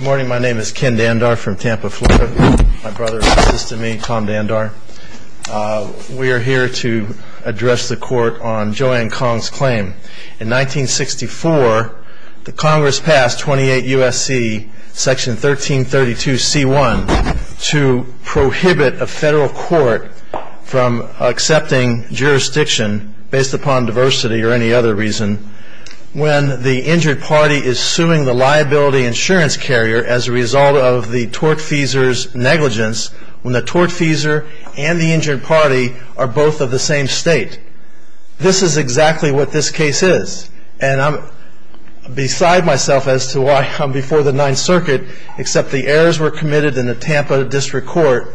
Good morning, my name is Ken Dandar from Tampa, Florida. My brother is just to me, Tom Dandar. We are here to address the court on Joanne Kong's claim. In 1964, the Congress passed 28 U.S.C. Section 1332 C.1 to prohibit a federal court from accepting jurisdiction based upon diversity or any other reason when the injured party is suing the liability insurance carrier as a result of the tortfeasor's negligence when the tortfeasor and the injured party are both of the same state. This is exactly what this case is. And I'm beside myself as to why I'm before the Ninth Circuit, except the errors were committed in the Tampa District Court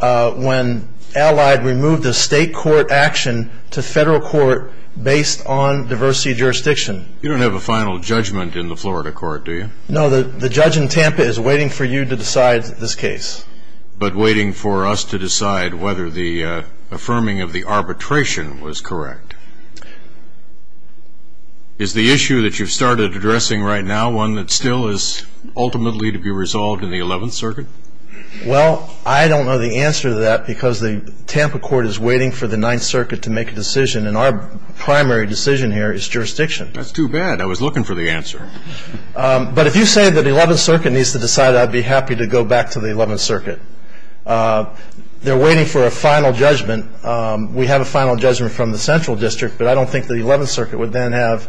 when Allied removed the state court action to federal court based on diversity jurisdiction. You don't have a final judgment in the Florida court, do you? No, the judge in Tampa is waiting for you to decide this case. But waiting for us to decide whether the affirming of the arbitration was correct. Is the issue that you've started addressing right now one that still is ultimately to be resolved in the Eleventh Circuit? Well, I don't know the answer to that because the Tampa court is waiting for the Ninth Circuit to make a decision. And our primary decision here is jurisdiction. That's too bad. I was looking for the answer. But if you say that the Eleventh Circuit needs to decide, I'd be happy to go back to the Eleventh Circuit. They're waiting for a final judgment. We have a final judgment from the Central District, but I don't think the Eleventh Circuit would then have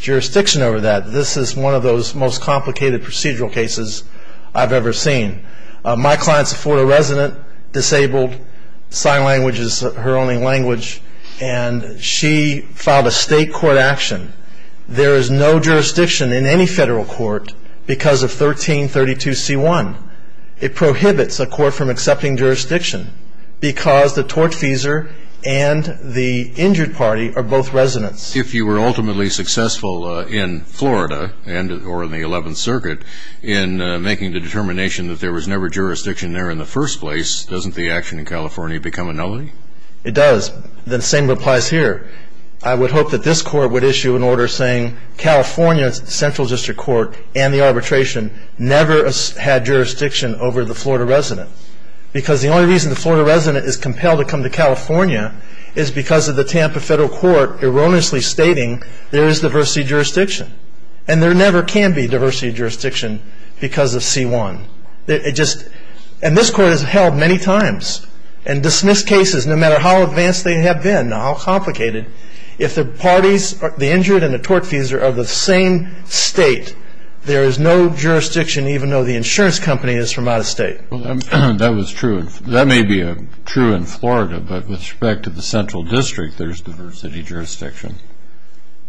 jurisdiction over that. This is one of those most complicated procedural cases I've ever seen. My client's a Florida resident, disabled, sign language is her only language, and she filed a state court action. There is no jurisdiction in any federal court because of 1332C1. It prohibits a court from accepting jurisdiction because the tortfeasor and the injured party are both residents. If you were ultimately successful in Florida or in the Eleventh Circuit in making the determination that there was never jurisdiction there in the first place, doesn't the action in California become a nullity? It does. The same applies here. I would hope that this court would issue an order saying California's Central District Court and the arbitration never had jurisdiction over the Florida resident because the only reason the Florida resident is compelled to come to California is because of the Tampa federal court erroneously stating there is diversity of jurisdiction. And there never can be diversity of jurisdiction because of C1. And this court has held many times and dismissed cases no matter how advanced they have been or how complicated. If the parties, the injured and the tortfeasor, are the same state, there is no jurisdiction even though the insurance company is from out of state. Well, that was true. That may be true in Florida, but with respect to the Central District, there is diversity of jurisdiction.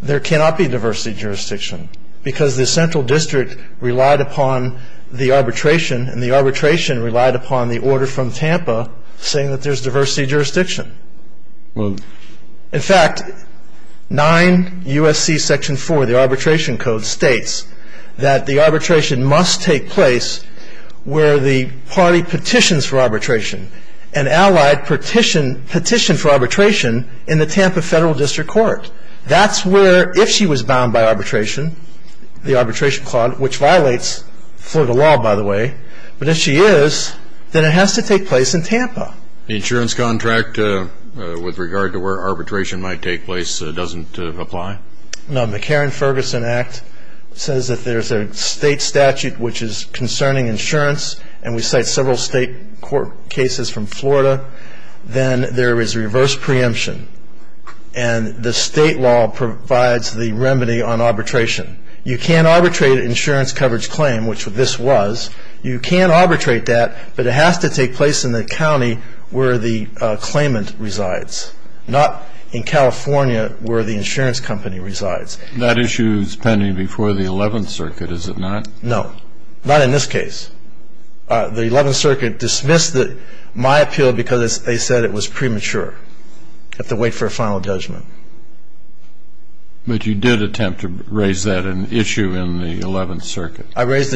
There cannot be diversity of jurisdiction because the Central District relied upon the arbitration and the arbitration relied upon the order from Tampa saying that there is diversity of jurisdiction. In fact, 9 U.S.C. Section 4, the arbitration code, states that the arbitration must take place where the party petitions for arbitration. An allied petitioned for arbitration in the Tampa federal district court. That's where if she was bound by arbitration, the arbitration clause, which violates Florida law, by the way, but if she is, then it has to take place in Tampa. The insurance contract with regard to where arbitration might take place doesn't apply? No. The Karen Ferguson Act says that there is a state statute which is concerning insurance, and we cite several state court cases from Florida. Then there is reverse preemption, and the state law provides the remedy on arbitration. You can't arbitrate an insurance coverage claim, which this was. You can arbitrate that, but it has to take place in the county where the claimant resides, not in California where the insurance company resides. That issue is pending before the 11th Circuit, is it not? No. Not in this case. The 11th Circuit dismissed my appeal because they said it was premature. You have to wait for a final judgment. I raised a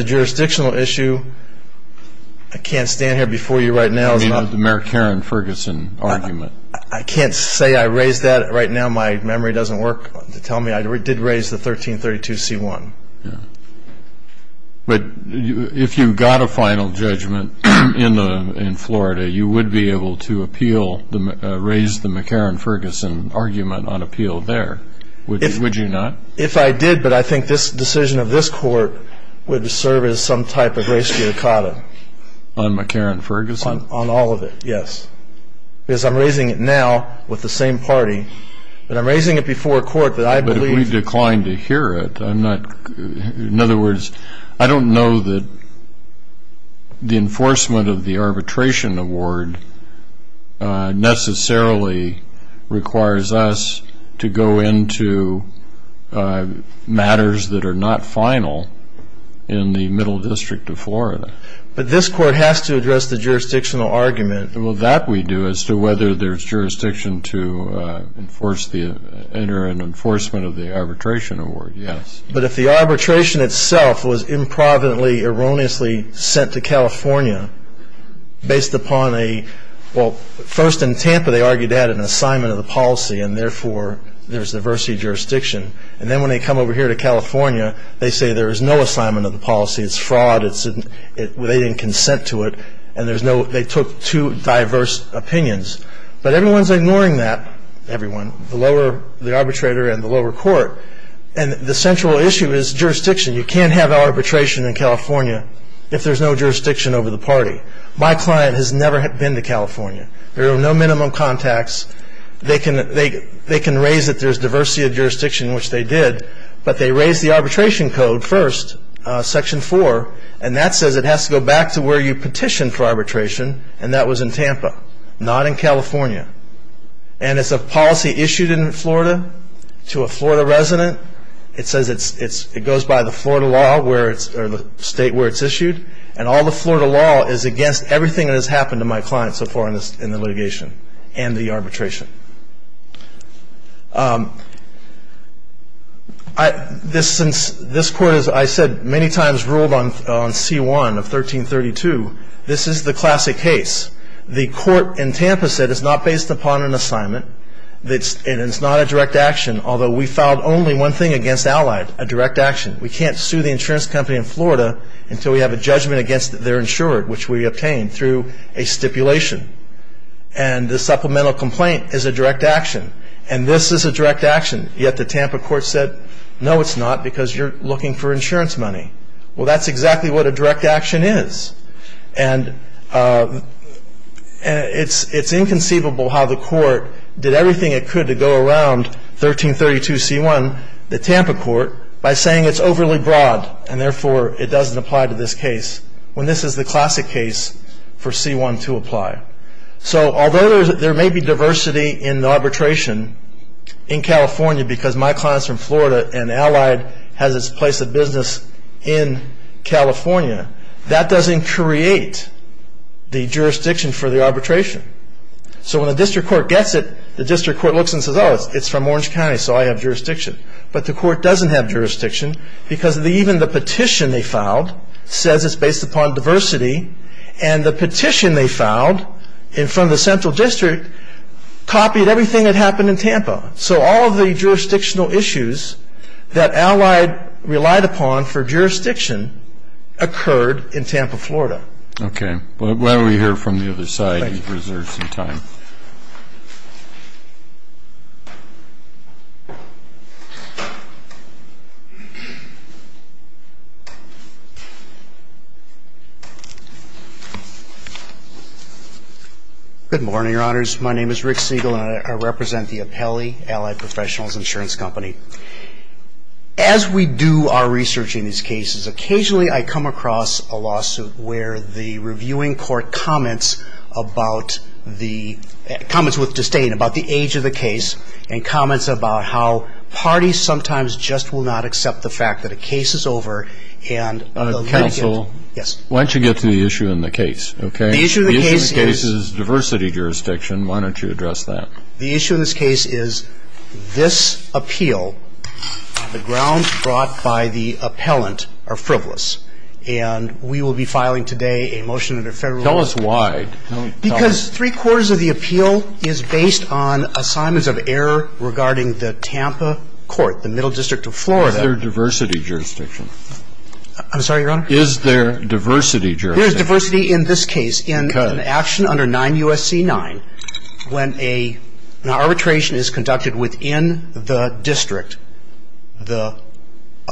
jurisdictional issue. I can't stand here before you right now. You mean the Mayor Karen Ferguson argument. I can't say I raised that right now. My memory doesn't work to tell me. I did raise the 1332C1. But if you got a final judgment in Florida, you would be able to appeal, raise the McCarran-Ferguson argument on appeal there, would you not? If I did, but I think this decision of this Court would serve as some type of res judicata. On McCarran-Ferguson? On all of it, yes. Because I'm raising it now with the same party. But I'm raising it before a Court that I believe ---- But if we decline to hear it, I'm not ---- matters that are not final in the middle district of Florida. But this Court has to address the jurisdictional argument. Well, that we do as to whether there's jurisdiction to enforce the ---- enter an enforcement of the arbitration award, yes. But if the arbitration itself was improvidently, erroneously sent to California based upon a ---- Well, first in Tampa they argued that an assignment of the policy, and therefore there's diversity of jurisdiction. And then when they come over here to California, they say there is no assignment of the policy. It's fraud. They didn't consent to it. And there's no ---- they took two diverse opinions. But everyone's ignoring that, everyone, the lower ---- the arbitrator and the lower court. And the central issue is jurisdiction. You can't have arbitration in California if there's no jurisdiction over the party. My client has never been to California. There are no minimum contacts. They can raise that there's diversity of jurisdiction, which they did. But they raised the arbitration code first, Section 4. And that says it has to go back to where you petitioned for arbitration, and that was in Tampa, not in California. And it's a policy issued in Florida to a Florida resident. It says it's ---- it goes by the Florida law where it's ---- or the state where it's issued. And all the Florida law is against everything that has happened to my client so far in the litigation and the arbitration. This court, as I said, many times ruled on C-1 of 1332. This is the classic case. The court in Tampa said it's not based upon an assignment and it's not a direct action, although we filed only one thing against Allied, a direct action. We can't sue the insurance company in Florida until we have a judgment against their insurer, which we obtained through a stipulation. And the supplemental complaint is a direct action. And this is a direct action. Yet the Tampa court said, no, it's not because you're looking for insurance money. Well, that's exactly what a direct action is. And it's inconceivable how the court did everything it could to go around 1332 C-1, the Tampa court, by saying it's overly broad and, therefore, it doesn't apply to this case, when this is the classic case for C-1 to apply. So although there may be diversity in the arbitration in California, because my client is from Florida and Allied has its place of business in California, that doesn't create the jurisdiction for the arbitration. So when a district court gets it, the district court looks and says, oh, it's from Orange County, so I have jurisdiction. But the court doesn't have jurisdiction because even the petition they filed says it's based upon diversity. And the petition they filed in front of the central district copied everything that happened in Tampa. So all of the jurisdictional issues that Allied relied upon for jurisdiction occurred in Tampa, Florida. Okay. Glad we're here from the other side. You've reserved some time. Good morning, Your Honors. My name is Rick Siegel, and I represent the Apelli Allied Professionals Insurance Company. As we do our research in these cases, occasionally I come across a lawsuit where the reviewing court comments with disdain about the age of the case and comments about how parties sometimes just will not accept the fact that a case is over. Counsel? Yes. Why don't you get to the issue and the case, okay? The issue and the case is diversity jurisdiction. Why don't you address that? The issue in this case is this appeal on the ground brought by the appellant are frivolous. And we will be filing today a motion under federal law. Tell us why. Because three-quarters of the appeal is based on assignments of error regarding the Tampa court, the middle district of Florida. Is there diversity jurisdiction? I'm sorry, Your Honor? Is there diversity jurisdiction? There is diversity in this case. Okay. An action under 9 U.S.C. 9, when an arbitration is conducted within the district, the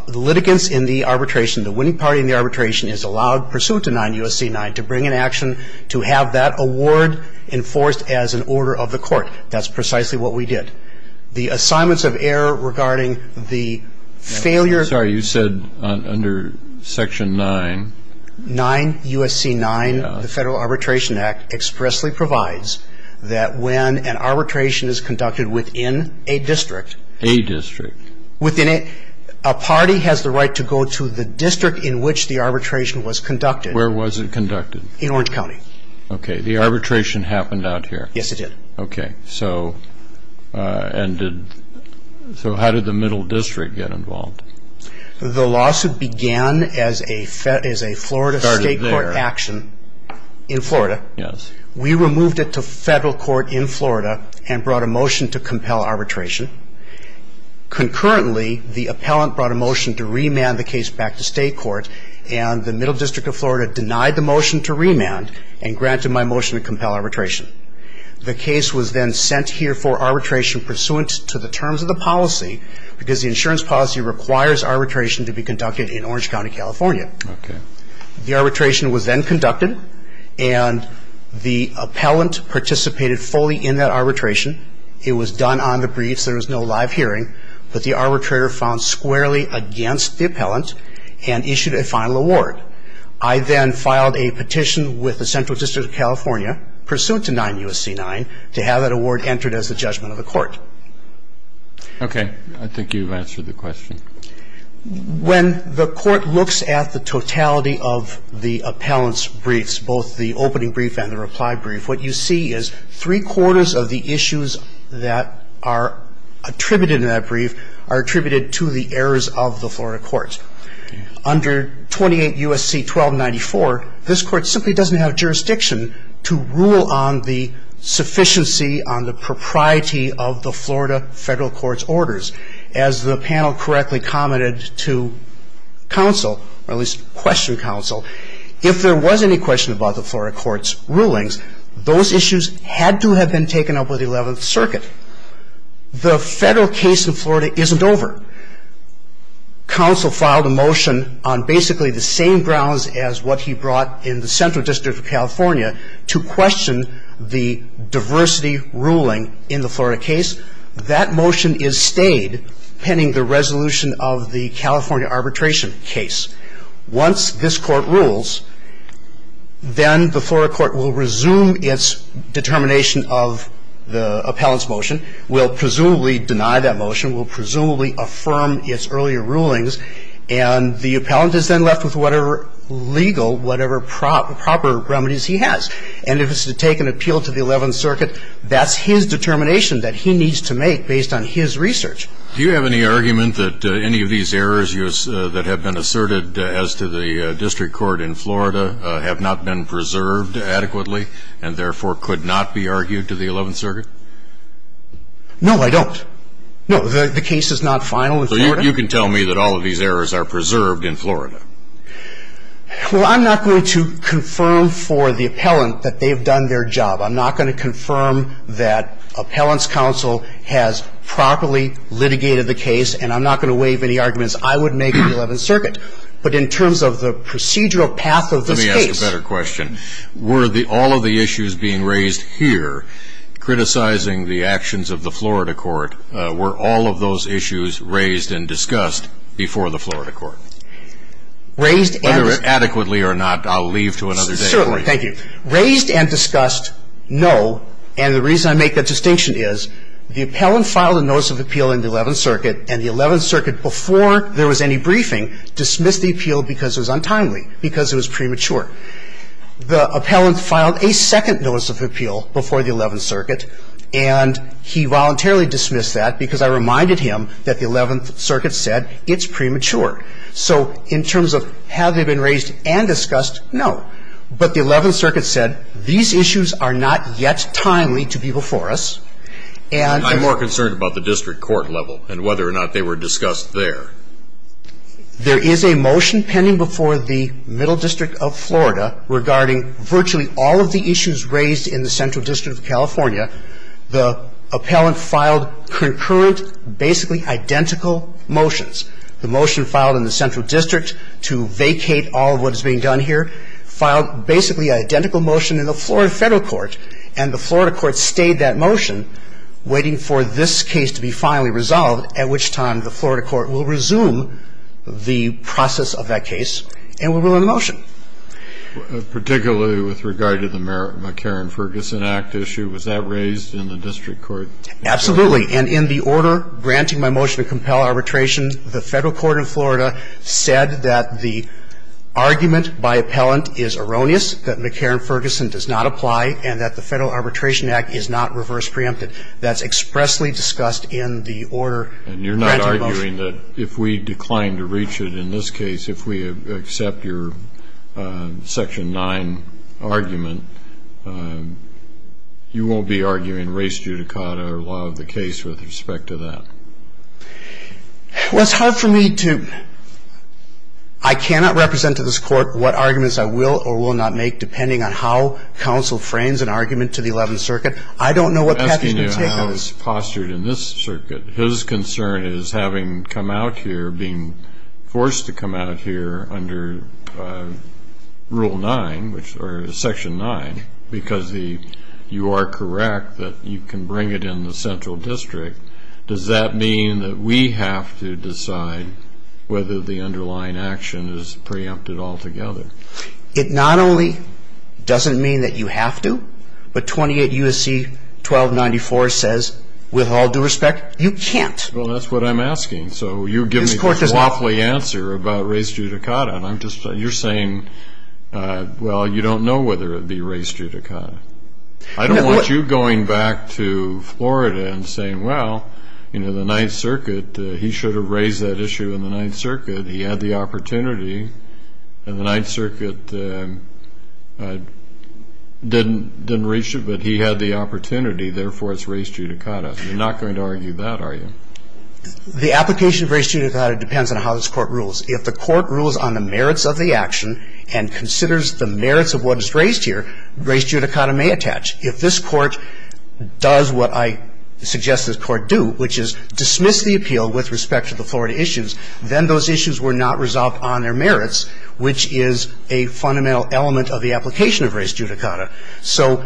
litigants in the arbitration, the winning party in the arbitration is allowed, pursuant to 9 U.S.C. 9, to bring an action to have that award enforced as an order of the court. That's precisely what we did. The assignments of error regarding the failure of the court. I'm sorry. You said under Section 9. 9 U.S.C. 9. The Federal Arbitration Act expressly provides that when an arbitration is conducted within a district. A district. A party has the right to go to the district in which the arbitration was conducted. Where was it conducted? In Orange County. Okay. The arbitration happened out here. Yes, it did. Okay. So how did the middle district get involved? The lawsuit began as a Florida state court action in Florida. Yes. We removed it to federal court in Florida and brought a motion to compel arbitration. Concurrently, the appellant brought a motion to remand the case back to state court, and the middle district of Florida denied the motion to remand and granted my motion to compel arbitration. The case was then sent here for arbitration pursuant to the terms of the policy, because the insurance policy requires arbitration to be conducted in Orange County, California. Okay. The arbitration was then conducted, and the appellant participated fully in that arbitration. It was done on the briefs. There was no live hearing. But the arbitrator found squarely against the appellant and issued a final award. I then filed a petition with the Central District of California, pursuant to 9 U.S.C. 9, to have that award entered as a judgment of the court. Okay. I think you've answered the question. When the court looks at the totality of the appellant's briefs, both the opening brief and the reply brief, what you see is three-quarters of the issues that are attributed in that brief are attributed to the errors of the Florida court. Under 28 U.S.C. 1294, this court simply doesn't have jurisdiction to rule on the sufficiency, on the propriety of the Florida federal court's orders. As the panel correctly commented to counsel, or at least questioned counsel, if there was any question about the Florida court's rulings, those issues had to have been taken up with the 11th Circuit. The federal case in Florida isn't over. Counsel filed a motion on basically the same grounds as what he brought in the Central District of California to question the diversity ruling in the Florida case. That motion is stayed pending the resolution of the California arbitration case. Once this court rules, then the Florida court will resume its determination of the appellant's motion, will presumably deny that motion, will presumably affirm its earlier rulings, And the appellant is then left with whatever legal, whatever proper remedies he has. And if it's to take an appeal to the 11th Circuit, that's his determination that he needs to make based on his research. Do you have any argument that any of these errors that have been asserted as to the district court in Florida have not been preserved adequately and therefore could not be argued to the 11th Circuit? No, I don't. No, the case is not final in Florida. You can tell me that all of these errors are preserved in Florida. Well, I'm not going to confirm for the appellant that they've done their job. I'm not going to confirm that appellant's counsel has properly litigated the case. And I'm not going to waive any arguments I would make to the 11th Circuit. But in terms of the procedural path of this case. Let me ask a better question. Were all of the issues being raised here, criticizing the actions of the Florida court, were all of those issues raised and discussed before the Florida court? Raised and. Whether adequately or not, I'll leave to another day. Certainly. Thank you. Raised and discussed, no. And the reason I make that distinction is the appellant filed a notice of appeal in the 11th Circuit. And the 11th Circuit, before there was any briefing, dismissed the appeal because it was untimely, because it was premature. The appellant filed a second notice of appeal before the 11th Circuit. And he voluntarily dismissed that because I reminded him that the 11th Circuit said it's premature. So in terms of have they been raised and discussed, no. But the 11th Circuit said these issues are not yet timely to be before us. And. I'm more concerned about the district court level and whether or not they were discussed there. There is a motion pending before the Middle District of Florida regarding virtually all of the issues raised in the Central District of California. The appellant filed concurrent, basically identical motions. The motion filed in the Central District to vacate all of what is being done here filed basically an identical motion in the Florida federal court. And the Florida court stayed that motion, waiting for this case to be finally resolved, at which time the Florida court will resume the process of that case and will rule on the motion. And in my refers to the land misuse of authority. and Ferguson? In particular, with regard to the McCarran-Ferguson Act issue, was that raised in the district court? Absolutely. And in the order granting my motion to compel arbitration, the federal court in Florida said that the argument by appellant is erroneous, that McCarran-Ferguson does not apply, and that the Federal Arbitration Act is not reverse preempted. That's expressly discussed in the order granting motion. And you're not arguing that if we decline to reach it in this case, if we accept your Section 9 argument, you won't be arguing race judicata or law of the case with respect to that? Well, it's hard for me to – I cannot represent to this Court what arguments I will or will not make depending on how counsel frames an argument to the Eleventh Circuit. I don't know what path you should take on this. I'm asking you how it's postured in this circuit. His concern is having come out here, being forced to come out here under Rule 9, which – or Section 9, because the – you are correct that you can bring it in the central district. Does that mean that we have to decide whether the underlying action is preempted altogether? It not only doesn't mean that you have to, but 28 U.S.C. 1294 says, with all due respect, you can't. Well, that's what I'm asking. So you give me this waffly answer about race judicata, and I'm just – you're saying, well, you don't know whether it would be race judicata. I don't want you going back to Florida and saying, well, you know, the Ninth Circuit, he should have raised that issue in the Ninth Circuit. He had the opportunity. And the Ninth Circuit didn't reach it, but he had the opportunity. Therefore, it's race judicata. You're not going to argue that, are you? The application of race judicata depends on how this Court rules. If the Court rules on the merits of the action and considers the merits of what is raised here, race judicata may attach. If this Court does what I suggest this Court do, which is dismiss the appeal with respect to the Florida issues, then those issues were not resolved on their merits, which is a fundamental element of the application of race judicata. So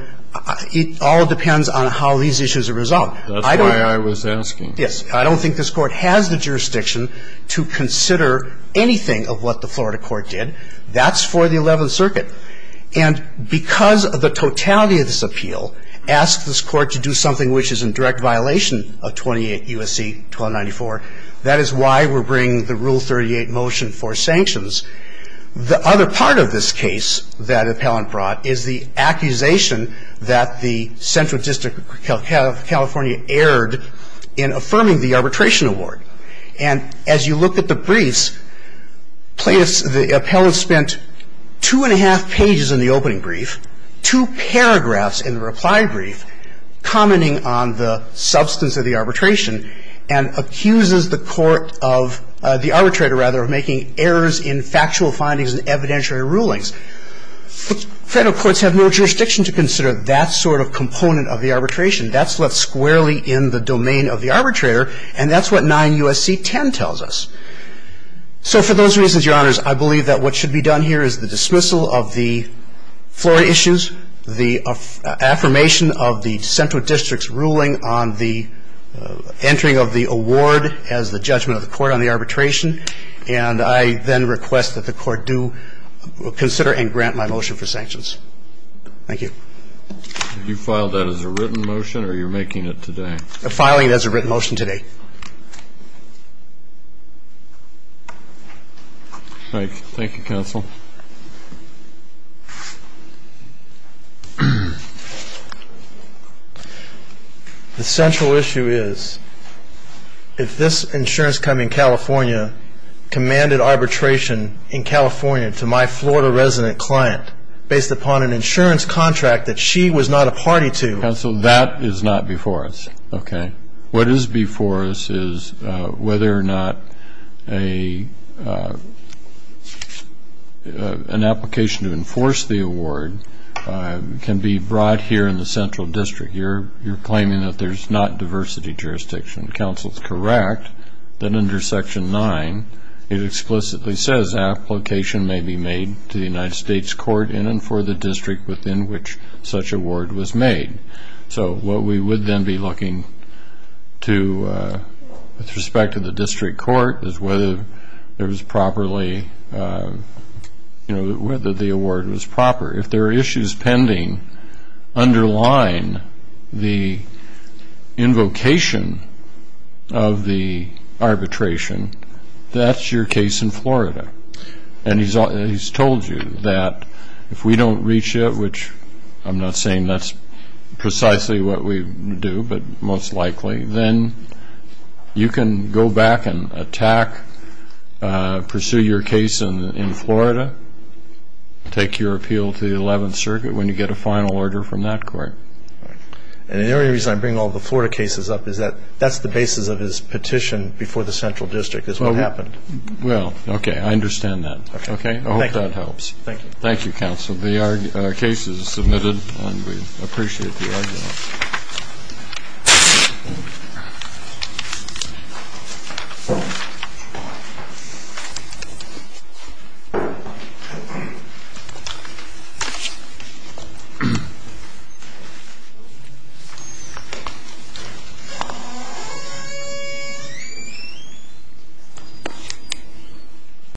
it all depends on how these issues are resolved. That's why I was asking. Yes. I don't think this Court has the jurisdiction to consider anything of what the Florida Court did. That's for the Eleventh Circuit. And because of the totality of this appeal, ask this Court to do something which is in direct violation of 28 U.S.C. 1294, that is why we're bringing the Rule 38 motion for sanctions. The other part of this case that Appellant brought is the accusation that the Central District of California erred in affirming the arbitration award. And as you look at the briefs, the Appellant spent two and a half pages in the opening brief, two paragraphs in the reply brief, commenting on the substance of the arbitration and accuses the Court of the arbitrator, rather, of making errors in factual findings and evidentiary rulings. Federal courts have no jurisdiction to consider that sort of component of the arbitration. That's left squarely in the domain of the arbitrator, and that's what 9 U.S.C. 10 tells us. So for those reasons, Your Honors, I believe that what should be done here is the dismissal of the floor issues, the affirmation of the Central District's ruling on the entering of the award as the judgment of the Court on the arbitration, and I then request that the Court do consider and grant my motion for sanctions. Thank you. You filed that as a written motion, or you're making it today? Filing it as a written motion today. Thank you, Counsel. The central issue is if this insurance company in California commanded arbitration in California to my Florida resident client based upon an insurance contract that she was not a party to. Counsel, that is not before us, okay? What is before us is whether or not an application to enforce the award can be brought here in the Central District. You're claiming that there's not diversity jurisdiction. Counsel's correct that under Section 9, it explicitly says, application may be made to the United States Court in and for the district within which such award was made. So what we would then be looking to, with respect to the district court, is whether there was properly, you know, whether the award was proper. If there are issues pending underlying the invocation of the arbitration, that's your case in Florida. And he's told you that if we don't reach it, which I'm not saying that's precisely what we do, but most likely, then you can go back and attack, pursue your case in Florida, take your appeal to the 11th Circuit when you get a final order from that court. And the only reason I bring all the Florida cases up is that that's the basis of his petition before the Central District is what happened. Well, okay. I understand that. Okay. I hope that helps. Thank you. Thank you, Counsel. The case is submitted, and we appreciate the argument. Thank you.